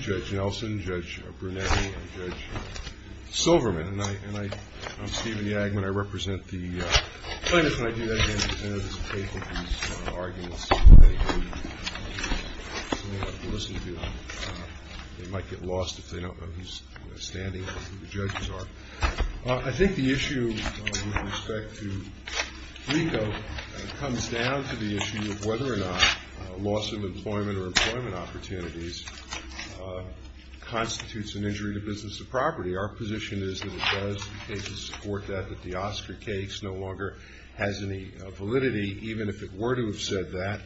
Judge Nelson, Judge Brunetti, and Judge Silverman, and I'm Stephen Yagman. I represent the plaintiffs, and I do that again because any of this paper, these arguments, they may have to listen to. They might get lost if they don't know who's standing, who the judges are. I think the issue with respect to Flico comes down to the issue of whether or not loss of employment or employment opportunities constitutes an injury to business or property. Our position is that it does in some cases support that, that the Oscar case no longer has any validity, even if it were to have said that.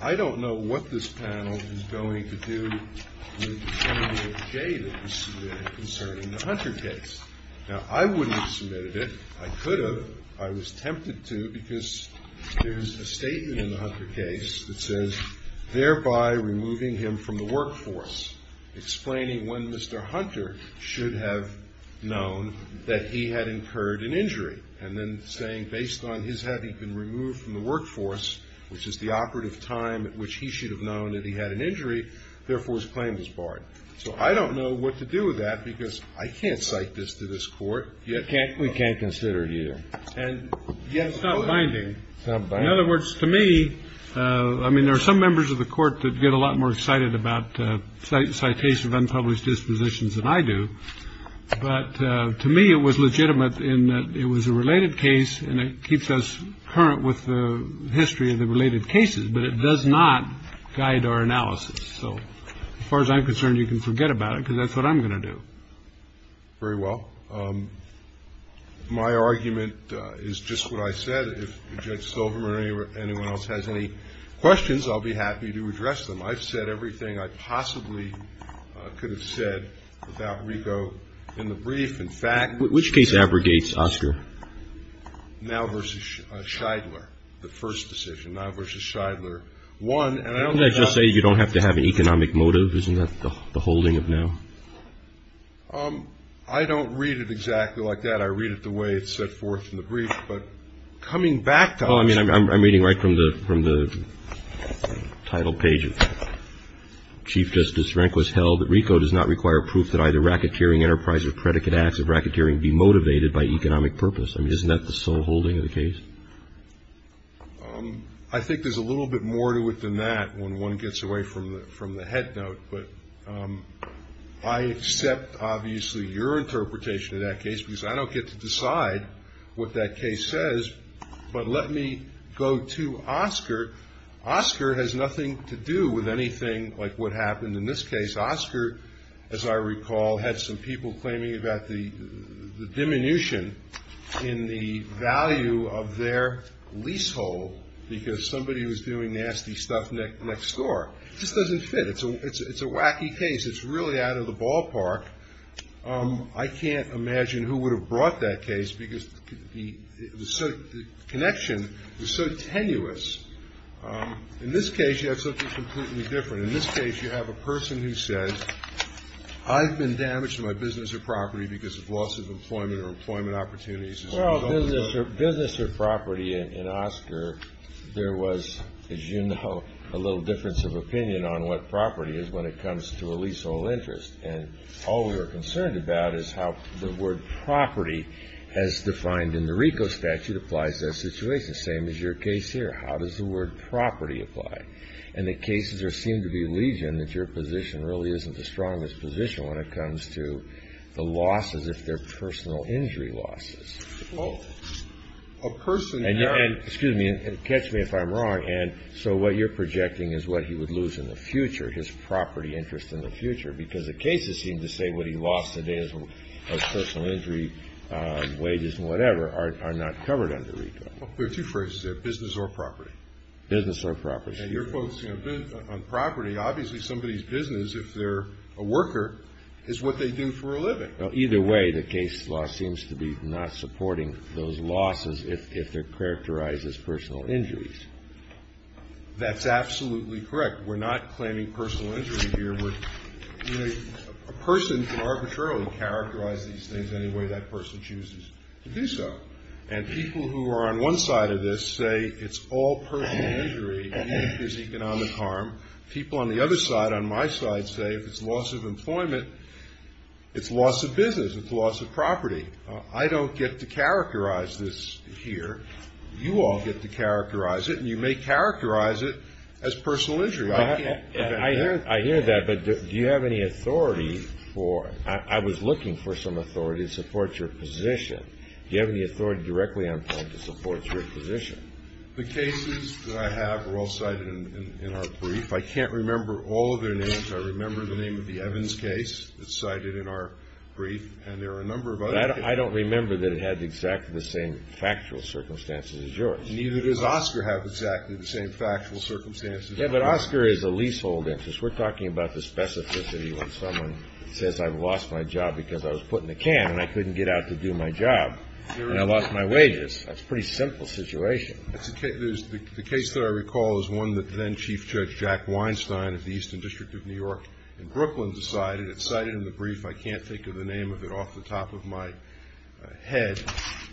I don't know what this panel is going to do with the statement of Jay that was submitted concerning the Hunter case. Now, I wouldn't have submitted it. I could have. I was tempted to because there's a statement in the Hunter case that says, thereby removing him from the workforce, explaining when Mr. Hunter should have known that he had incurred an injury, and then saying, based on his having been removed from the workforce, which is the operative time at which he should have known that he had an injury, therefore his claim is barred. So I don't know what to do with that because I can't cite this to this Court. We can't consider it either. And it's not binding. In other words, to me, I mean, there are some members of the Court that get a lot more excited about citation of unpublished dispositions than I do, but to me it was legitimate in that it was a related case and it keeps us current with the history of the related cases, but it does not guide our analysis. So, as far as I'm concerned, you can forget about it because that's what I'm going to do. Very well. My argument is just what I said. If Judge Silverman or anyone else has any questions, I'll be happy to address them. I've said everything I possibly could have said about Rico in the brief. In fact, which case abrogates Oscar? Now versus Scheidler. The first decision, now versus Scheidler. One, and I don't want to just say you don't have to have an economic motive. Isn't that the holding of now? I don't read it exactly like that. I read it the way it's set forth in the brief. I think there's a little bit more to it than that when one gets away from the head note, but I accept, obviously, your interpretation of that case because I don't get to decide what that case is. But let me go to Oscar. Oscar has nothing to do with anything like what happened in this case. Oscar, as I recall, had some people claiming about the diminution in the value of their leasehold because somebody was doing nasty stuff next door. This doesn't fit. It's a wacky case. It's really out of the ballpark. I can't imagine who would have brought that case because the connection was so tenuous. In this case, you have something completely different. In this case, you have a person who says, I've been damaged in my business or property because of loss of employment or employment opportunities. Well, business or property, in Oscar, there was, as you know, a little difference of opinion on what property is when it comes to a leasehold interest. And all we were concerned about is how the word property as defined in the RICO statute applies to that situation. Same as your case here. How does the word property apply? And the cases seem to be alleging that your position really isn't the strongest position when it comes to the losses, if they're personal injury losses. And catch me if I'm wrong. And so what you're projecting is what he would lose in the future, his property interest in the future, because the cases seem to say what he lost today as personal injury wages and whatever are not covered under RICO. There are two phrases there, business or property. Business or property. And your folks on property, obviously somebody's business, if they're a worker, is what they do for a living. Either way, the case law seems to be not supporting those losses if they're characterized as personal injuries. That's absolutely correct. We're not claiming personal injury here. A person can arbitrarily characterize these things any way that person chooses to do so. And people who are on one side of this say it's all personal injury and that there's economic harm. People on the other side, on my side, say if it's loss of employment, it's loss of business, it's loss of property. I don't get to characterize this here. You all get to characterize it, and you may characterize it as personal injury. I can't prevent that. I hear that, but do you have any authority for it? I was looking for some authority to support your position. Do you have any authority directly on time to support your position? The cases that I have are all cited in our brief. I can't remember all of their names. I remember the name of the Evans case that's cited in our brief, and there are a number of other cases. But I don't remember that it had exactly the same factual circumstances as yours. Neither does Oscar have exactly the same factual circumstances. Yeah, but Oscar is a leasehold interest. We're talking about the specificity when someone says, I've lost my job because I was put in a can and I couldn't get out to do my job, and I lost my wages. That's a pretty simple situation. The case that I recall is one that then Chief Judge Jack Weinstein of the Eastern District of New York in Brooklyn decided. It's cited in the brief. I can't think of the name of it off the top of my head.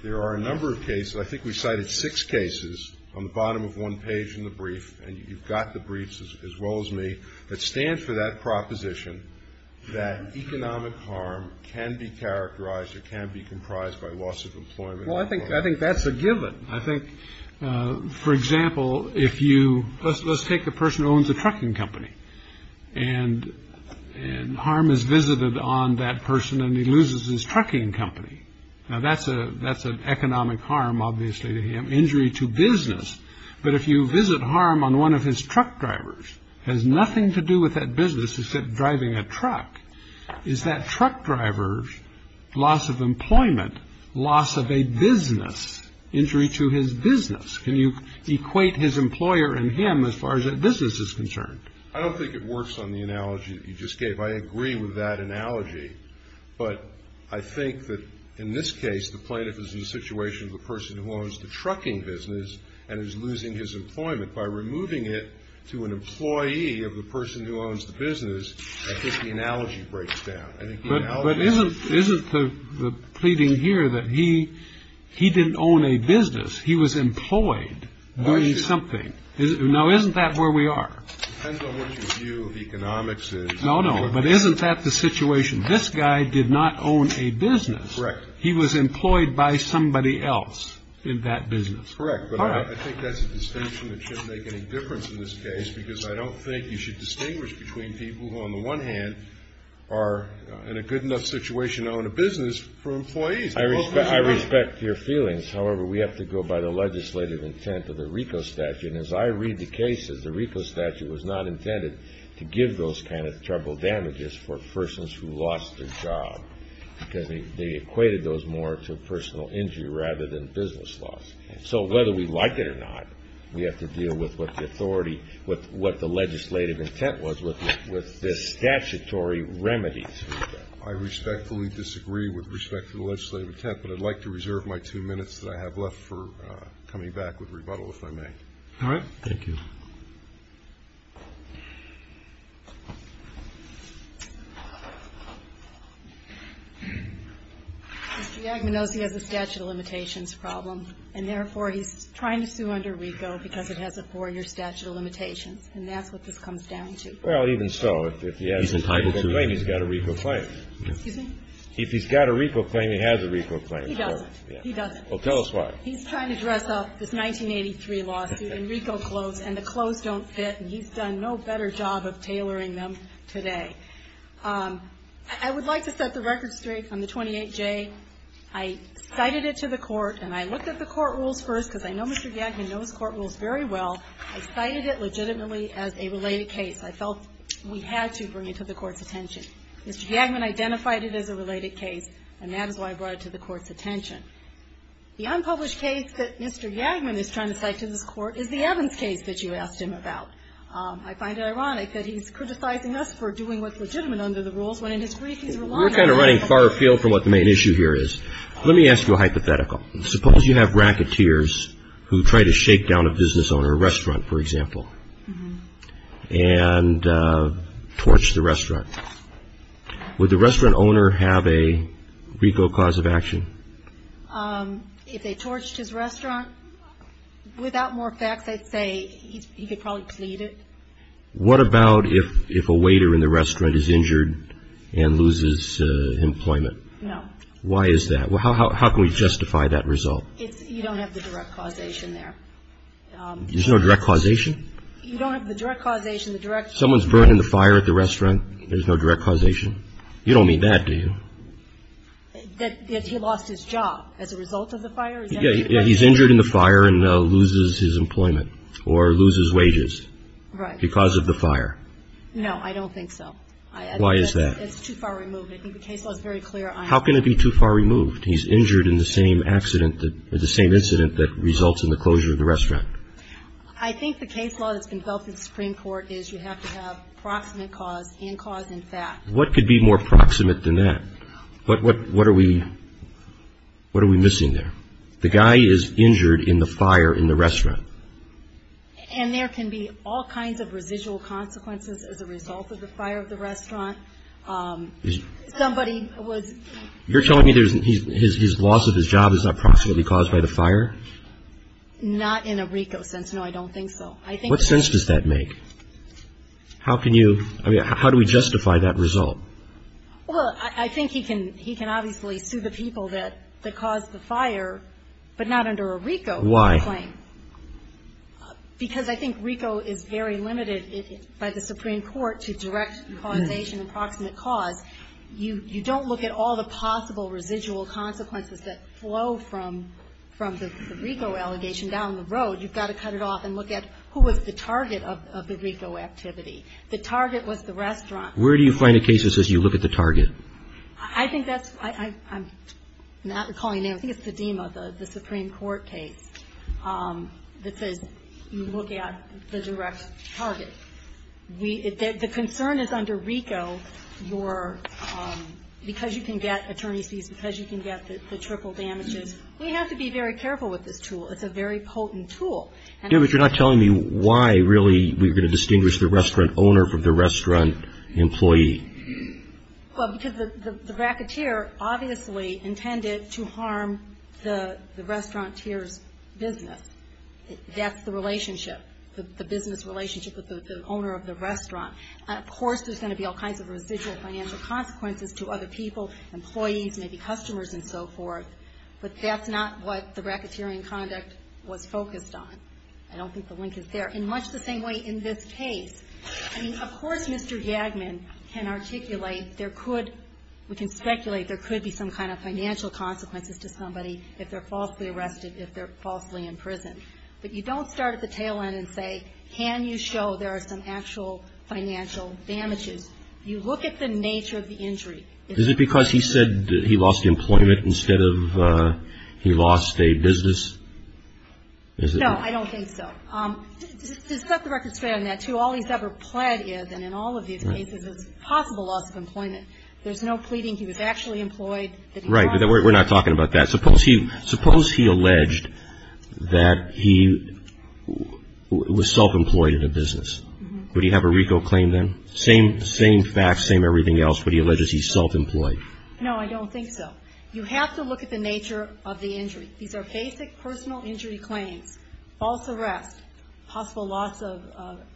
There are a number of cases. I think we cited six cases on the bottom of one page in the brief, and you've got the briefs as well as me, that stand for that proposition that economic harm can be characterized or can be comprised by loss of employment. Well, I think that's a given. I think, for example, if you let's take a person who owns a trucking company and and harm is visited on that person and he loses his trucking company. Now, that's a that's an economic harm, obviously, to him. Injury to business. But if you visit harm on one of his truck drivers has nothing to do with that business. He said driving a truck is that truck driver's loss of employment, loss of a business injury to his business. Can you equate his employer and him as far as a business is concerned? I don't think it works on the analogy you just gave. I agree with that analogy. But I think that in this case, the plaintiff is in a situation of a person who owns the trucking business and is losing his employment by removing it to an employee of the person who owns the business. I think the analogy breaks down. But isn't isn't the pleading here that he he didn't own a business. He was employed doing something. Now, isn't that where we are? Depends on what your view of economics is. No, no. But isn't that the situation? This guy did not own a business. Correct. He was employed by somebody else in that business. Correct. But I think that's a distinction that shouldn't make any difference in this case, because I don't think you should distinguish between people who, on the one hand, are in a good enough situation to own a business for employees. I respect your feelings. However, we have to go by the legislative intent of the RICO statute. And as I read the cases, the RICO statute was not intended to give those kind of trouble damages for persons who lost their job because they equated those more to personal injury rather than business loss. So whether we like it or not, we have to deal with what the authority with what the legislative intent was with this statutory remedies. I respectfully disagree with respect to the legislative intent, but I'd like to reserve my two minutes that I have left for coming back with rebuttal, if I may. All right. Thank you. Mr. Yagman knows he has a statute of limitations problem, and therefore, he's trying to sue under RICO because it has a four-year statute of limitations. And that's what this comes down to. Well, even so, if he has a RICO claim, he's got a RICO claim. Excuse me? If he's got a RICO claim, he has a RICO claim. He doesn't. He doesn't. Well, tell us why. He's trying to dress up this 1983 lawsuit in RICO clothes, and the clothes don't fit, and he's done no better job of tailoring them today. I would like to set the record straight on the 28J. I cited it to the court, and I looked at the court rules first because I know Mr. Yagman knows court rules very well. I cited it legitimately as a related case. I felt we had to bring it to the court's attention. Mr. Yagman identified it as a related case, and that is why I brought it to the court's attention. The unpublished case that Mr. Yagman is trying to cite to this court is the Evans case that you asked him about. I find it ironic that he's criticizing us for doing what's legitimate under the rules when, in his brief, he's relying on us. We're kind of running far afield from what the main issue here is. Let me ask you a hypothetical. Suppose you have racketeers who try to shake down a business owner, a restaurant, for example, and torch the restaurant. Would the restaurant owner have a recall cause of action? If they torched his restaurant, without more facts, I'd say he could probably plead it. What about if a waiter in the restaurant is injured and loses employment? No. Why is that? How can we justify that result? You don't have the direct causation there. There's no direct causation? You don't have the direct causation. Someone's burning the fire at the restaurant. There's no direct causation? You don't mean that, do you? That he lost his job as a result of the fire? Yeah, he's injured in the fire and loses his employment or loses wages because of the fire. No, I don't think so. Why is that? It's too far removed. I think the case law is very clear on that. How can it be too far removed? He's injured in the same accident, the same incident that results in the closure of the restaurant. I think the case law that's been built in the Supreme Court is you have to have proximate cause and cause and fact. What could be more proximate than that? What are we missing there? The guy is injured in the fire in the restaurant. And there can be all kinds of residual consequences as a result of the fire of the restaurant. Somebody was ---- You're telling me his loss of his job is not proximately caused by the fire? Not in a RICO sense. No, I don't think so. What sense does that make? How can you ---- I mean, how do we justify that result? Well, I think he can obviously sue the people that caused the fire, but not under a RICO claim. Why? Because I think RICO is very limited by the Supreme Court to direct causation and proximate cause. You don't look at all the possible residual consequences that flow from the RICO allegation down the road. You've got to cut it off and look at who was the target of the RICO activity. The target was the restaurant. Where do you find the cases as you look at the target? I think that's ---- I'm not recalling names. I think it's the DEMA, the Supreme Court case that says you look at the direct target. The concern is under RICO, your ---- because you can get attorney's fees, because you can get the triple damages, we have to be very careful with this tool. It's a very potent tool. Debra, you're not telling me why, really, we're going to distinguish the restaurant owner from the restaurant employee. Well, because the racketeer obviously intended to harm the restauranteer's business. That's the relationship, the business relationship with the owner of the restaurant. Of course, there's going to be all kinds of residual financial consequences to other people, employees, maybe customers and so forth. But that's not what the racketeering conduct was focused on. I don't think the link is there. And much the same way in this case. I mean, of course Mr. Jagman can articulate there could ---- we can speculate there could be some kind of financial consequences to somebody if they're falsely arrested, if they're falsely imprisoned. But you don't start at the tail end and say, can you show there are some actual financial damages. You look at the nature of the injury. Is it because he said he lost employment instead of he lost a business? No, I don't think so. To set the record straight on that, too, all he's ever pled is, and in all of these cases it's possible loss of employment. There's no pleading he was actually employed. Right. We're not talking about that. Suppose he alleged that he was self-employed in a business. Would he have a RICO claim then? Same facts, same everything else, but he alleges he's self-employed. No, I don't think so. You have to look at the nature of the injury. These are basic personal injury claims. False arrest, possible loss of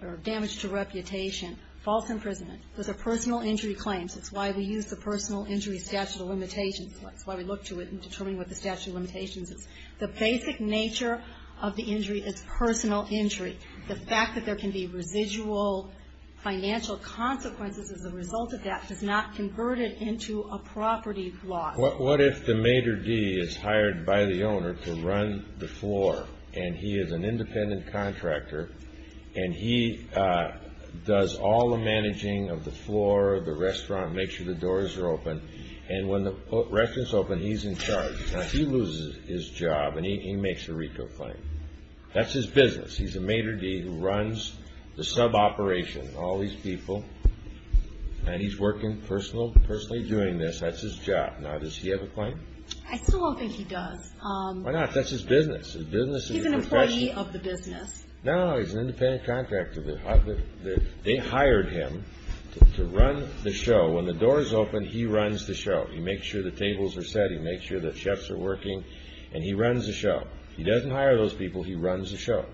or damage to reputation, false imprisonment. Those are personal injury claims. It's why we use the personal injury statute of limitations. That's why we look to it in determining what the statute of limitations is. The basic nature of the injury is personal injury. The fact that there can be residual financial consequences as a result of that has not converted into a property loss. What if the Mater D is hired by the owner to run the floor, and he is an independent contractor, and he does all the managing of the floor, the restaurant, makes sure the doors are open, and when the restaurant is open, he's in charge. Now, he loses his job, and he makes a RICO claim. That's his business. He's a Mater D who runs the sub-operation, all these people, and he's working personally doing this. That's his job. Now, does he have a claim? I still don't think he does. Why not? That's his business. He's an employee of the business. No, he's an independent contractor. They hired him to run the show. When the doors open, he runs the show. He makes sure the tables are set. He makes sure the chefs are working, and he runs the show. He doesn't hire those people. He runs the show.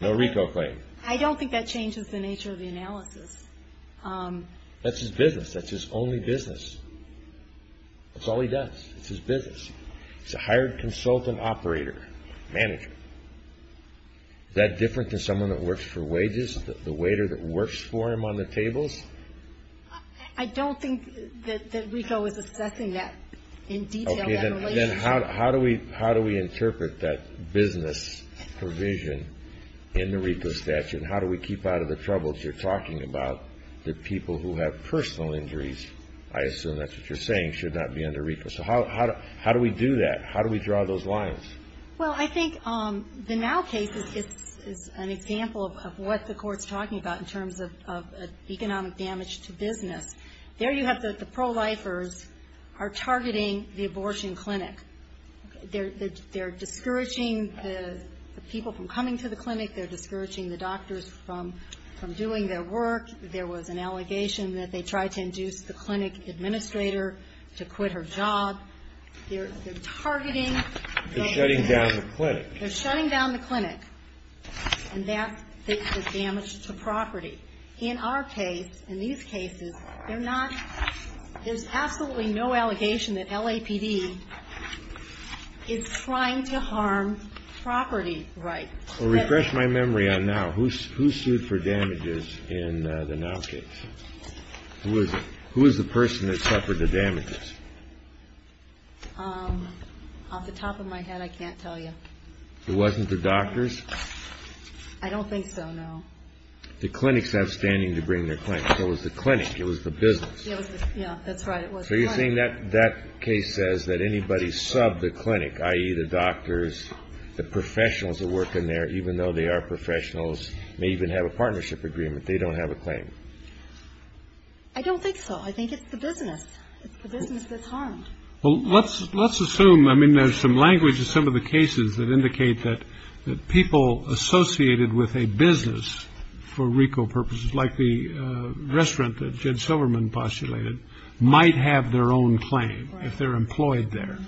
No RICO claim. I don't think that changes the nature of the analysis. That's his business. That's his only business. That's all he does. It's his business. He's a hired consultant operator, manager. Is that different than someone that works for wages, the waiter that works for him on the tables? I don't think that RICO is assessing that in detail. Okay. Then how do we interpret that business provision in the RICO statute? How do we keep out of the troubles you're talking about, the people who have personal injuries? I assume that's what you're saying, should not be under RICO. So how do we do that? How do we draw those lines? Well, I think the NOW case is an example of what the court's talking about in terms of economic damage to business. There you have the pro-lifers are targeting the abortion clinic. They're discouraging the people from coming to the clinic. They're discouraging the doctors from doing their work. There was an allegation that they tried to induce the clinic administrator to quit her job. They're targeting. They're shutting down the clinic. They're shutting down the clinic, and that's the damage to property. In our case, in these cases, there's absolutely no allegation that LAPD is trying to harm property rights. Well, refresh my memory on NOW. Who sued for damages in the NOW case? Who is it? Who is the person that suffered the damages? Off the top of my head, I can't tell you. It wasn't the doctors? I don't think so, no. The clinic's not standing to bring their claim. It was the clinic. It was the business. Yeah, that's right. So you're saying that case says that anybody subbed the clinic, i.e., the doctors, the professionals that work in there, even though they are professionals, may even have a partnership agreement, they don't have a claim? I don't think so. I think it's the business. It's the business that's harmed. Well, let's assume, I mean, there's some language in some of the cases that indicate that people associated with a business, for RICO purposes, like the restaurant that Jed Silverman postulated, might have their own claim if they're employed there.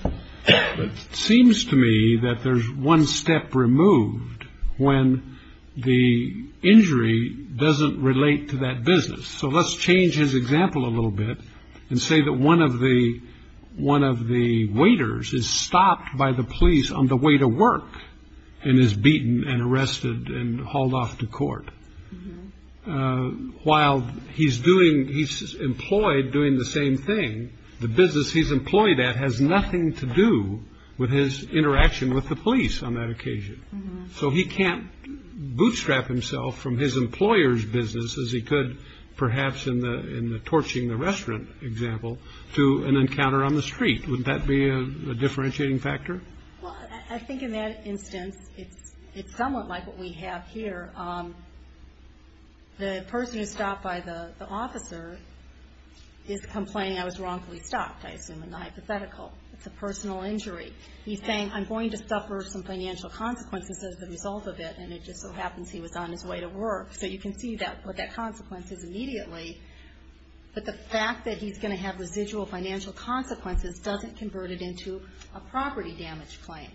But it seems to me that there's one step removed when the injury doesn't relate to that business. So let's change his example a little bit and say that one of the waiters is stopped by the police on the way to work and is beaten and arrested and hauled off to court. While he's doing, he's employed doing the same thing, the business he's employed at has nothing to do with his interaction with the police on that occasion. So he can't bootstrap himself from his employer's business as he could perhaps in the torching the restaurant example to an encounter on the street. Would that be a differentiating factor? Well, I think in that instance, it's somewhat like what we have here. The person who's stopped by the officer is complaining I was wrongfully stopped, I assume, and not hypothetical. It's a personal injury. He's saying, I'm going to suffer some financial consequences as a result of it, and it just so happens he was on his way to work. So you can see what that consequence is immediately. But the fact that he's going to have residual financial consequences doesn't convert it into a property damage claim.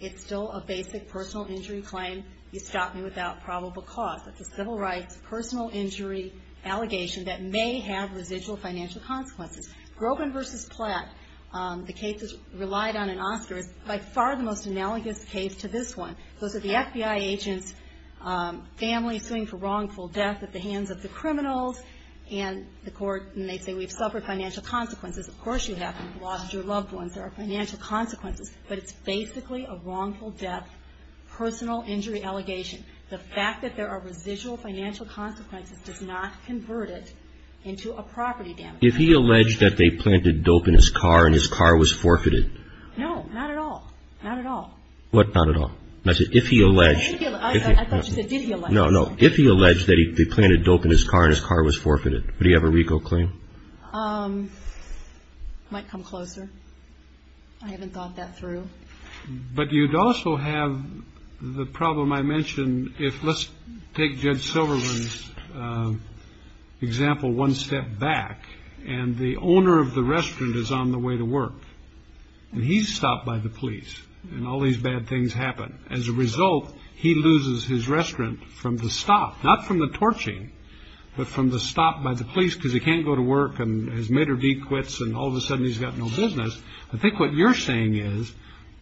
It's still a basic personal injury claim. You stopped me without probable cause. It's a civil rights personal injury allegation that may have residual financial consequences. Groban v. Platt, the case relied on an Oscar, is by far the most analogous case to this one. Those are the FBI agents' families suing for wrongful death at the hands of the criminals. And the court may say we've suffered financial consequences. Of course you have. You've lost your loved ones. There are financial consequences. But it's basically a wrongful death personal injury allegation. The fact that there are residual financial consequences does not convert it into a property damage claim. If he alleged that they planted dope in his car and his car was forfeited? No, not at all. Not at all. What, not at all? I said if he alleged. I thought you said did he allege. No, no. If he alleged that they planted dope in his car and his car was forfeited, would he have a RICO claim? Might come closer. I haven't thought that through. But you'd also have the problem I mentioned if let's take Judge Silverman's example one step back. And the owner of the restaurant is on the way to work. And he's stopped by the police. And all these bad things happen. As a result, he loses his restaurant from the stop. Not from the torching, but from the stop by the police because he can't go to work. And his maitre d' quits and all of a sudden he's got no business. I think what you're saying is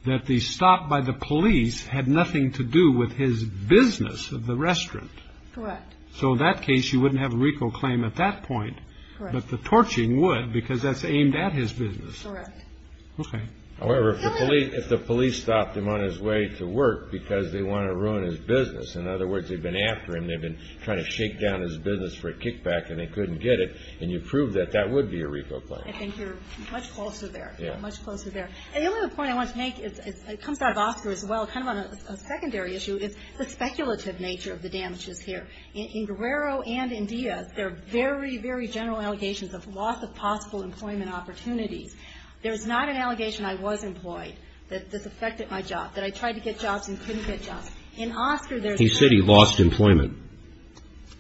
that the stop by the police had nothing to do with his business of the restaurant. Correct. So in that case, you wouldn't have a RICO claim at that point. But the torching would because that's aimed at his business. Correct. Okay. However, if the police stopped him on his way to work because they want to ruin his business. In other words, they've been after him. They've been trying to shake down his business for a kickback and they couldn't get it. And you proved that that would be a RICO claim. I think you're much closer there. Yeah. Much closer there. The only other point I wanted to make, it comes out of Oscar as well, kind of on a secondary issue, is the speculative nature of the damages here. In Guerrero and in Diaz, there are very, very general allegations of loss of possible employment opportunities. There's not an allegation I was employed that this affected my job, that I tried to get jobs and couldn't get jobs. In Oscar, there's. He said he lost employment.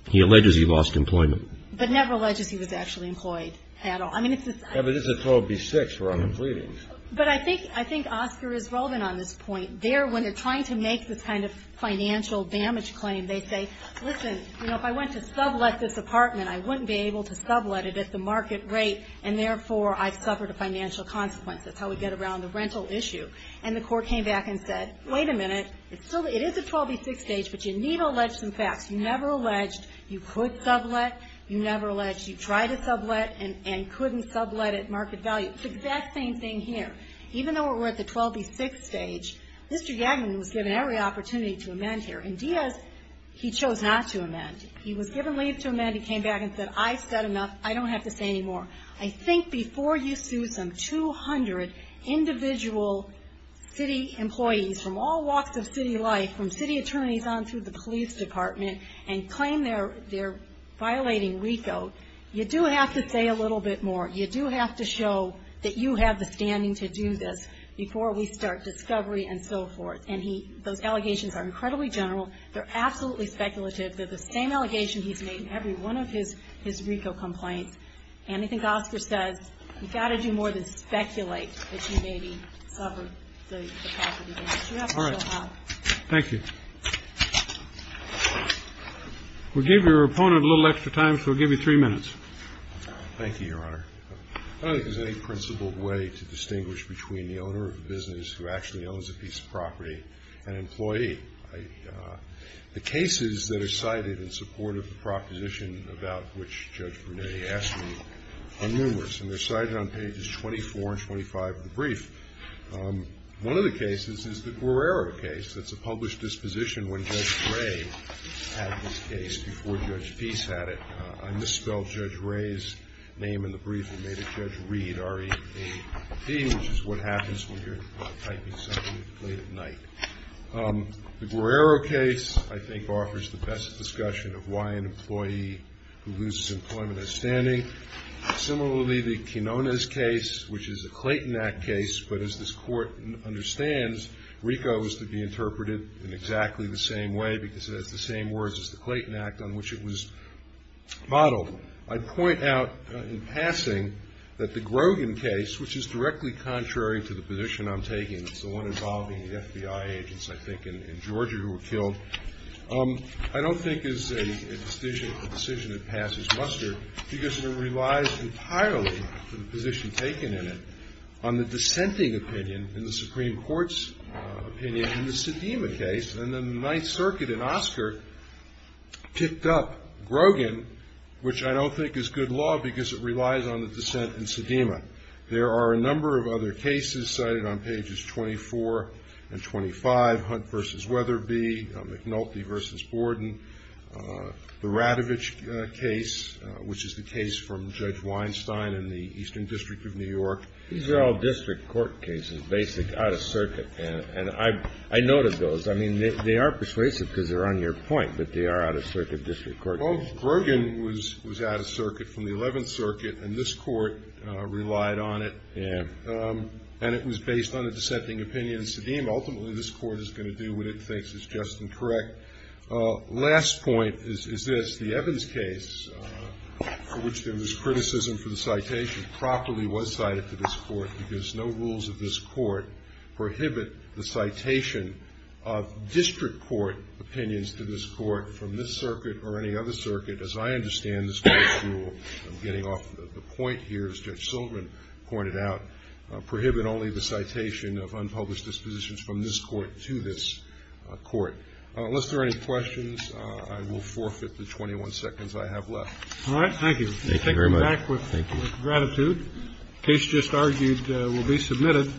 He alleges he lost employment. But never alleges he was actually employed at all. I mean, if this is. Yeah, but this is Pro B-6 for unemployment. But I think Oscar is relevant on this point. There, when they're trying to make this kind of financial damage claim, they say, listen, you know, if I went to sublet this apartment, I wouldn't be able to sublet it at the market rate, and therefore I've suffered a financial consequence. That's how we get around the rental issue. And the court came back and said, wait a minute. It is a 12B-6 stage, but you need to allege some facts. You never alleged you could sublet. You never alleged you tried to sublet and couldn't sublet at market value. It's the exact same thing here. Even though we're at the 12B-6 stage, Mr. Yaglan was given every opportunity to amend here. And Diaz, he chose not to amend. He was given leave to amend. He came back and said, I've said enough. I don't have to say any more. I think before you sue some 200 individual city employees from all walks of city life, from city attorneys on through the police department, and claim they're violating RICO, you do have to say a little bit more. You do have to show that you have the standing to do this before we start discovery and so forth. And those allegations are incredibly general. They're absolutely speculative. They're the same allegation he's made in every one of his RICO complaints. And I think Oscar says you've got to do more than speculate that you may be sublet. You have to show how. Thank you. We'll give your opponent a little extra time, so we'll give you three minutes. Thank you, Your Honor. I don't think there's any principled way to distinguish between the owner of a business who actually owns a piece of property and an employee. The cases that are cited in support of the proposition about which Judge Brunet asked me are numerous, and they're cited on pages 24 and 25 of the brief. One of the cases is the Guerrero case. That's a published disposition when Judge Gray had this case before Judge Peace had it. I misspelled Judge Gray's name in the brief and made it Judge Reed, R-E-A-D, which is what happens when you're typing something late at night. The Guerrero case I think offers the best discussion of why an employee who loses employment is standing. Similarly, the Quinonez case, which is a Clayton Act case, but as this Court understands, RICO is to be interpreted in exactly the same way because it has the same words as the Clayton Act, on which it was modeled. I point out in passing that the Grogan case, which is directly contrary to the position I'm taking, it's the one involving the FBI agents, I think, in Georgia who were killed, I don't think is a decision that passes muster because it relies entirely, for the position taken in it, on the dissenting opinion in the Supreme Court's opinion in the Sedema case. And then the Ninth Circuit in Oscar picked up Grogan, which I don't think is good law because it relies on the dissent in Sedema. There are a number of other cases cited on pages 24 and 25, Hunt v. Weatherby, McNulty v. Borden, the Radovich case, which is the case from Judge Weinstein in the Eastern District of New York. These are all district court cases, basic out-of-circuit. And I noted those. I mean, they are persuasive because they're on your point, but they are out-of-circuit district court cases. Well, Grogan was out-of-circuit from the Eleventh Circuit, and this Court relied on it. Yeah. And it was based on a dissenting opinion in Sedema. Ultimately, this Court is going to do what it thinks is just and correct. Last point is this. The Evans case, for which there was criticism for the citation, properly was cited to this Court because no rules of this Court prohibit the citation of district court opinions to this Court from this circuit or any other circuit, as I understand this Court's rule. I'm getting off the point here, as Judge Silverman pointed out, prohibit only the citation of unpublished dispositions from this Court to this Court. Unless there are any questions, I will forfeit the 21 seconds I have left. All right. Thank you. Thank you very much. We'll take you back with gratitude. The case just argued will be submitted.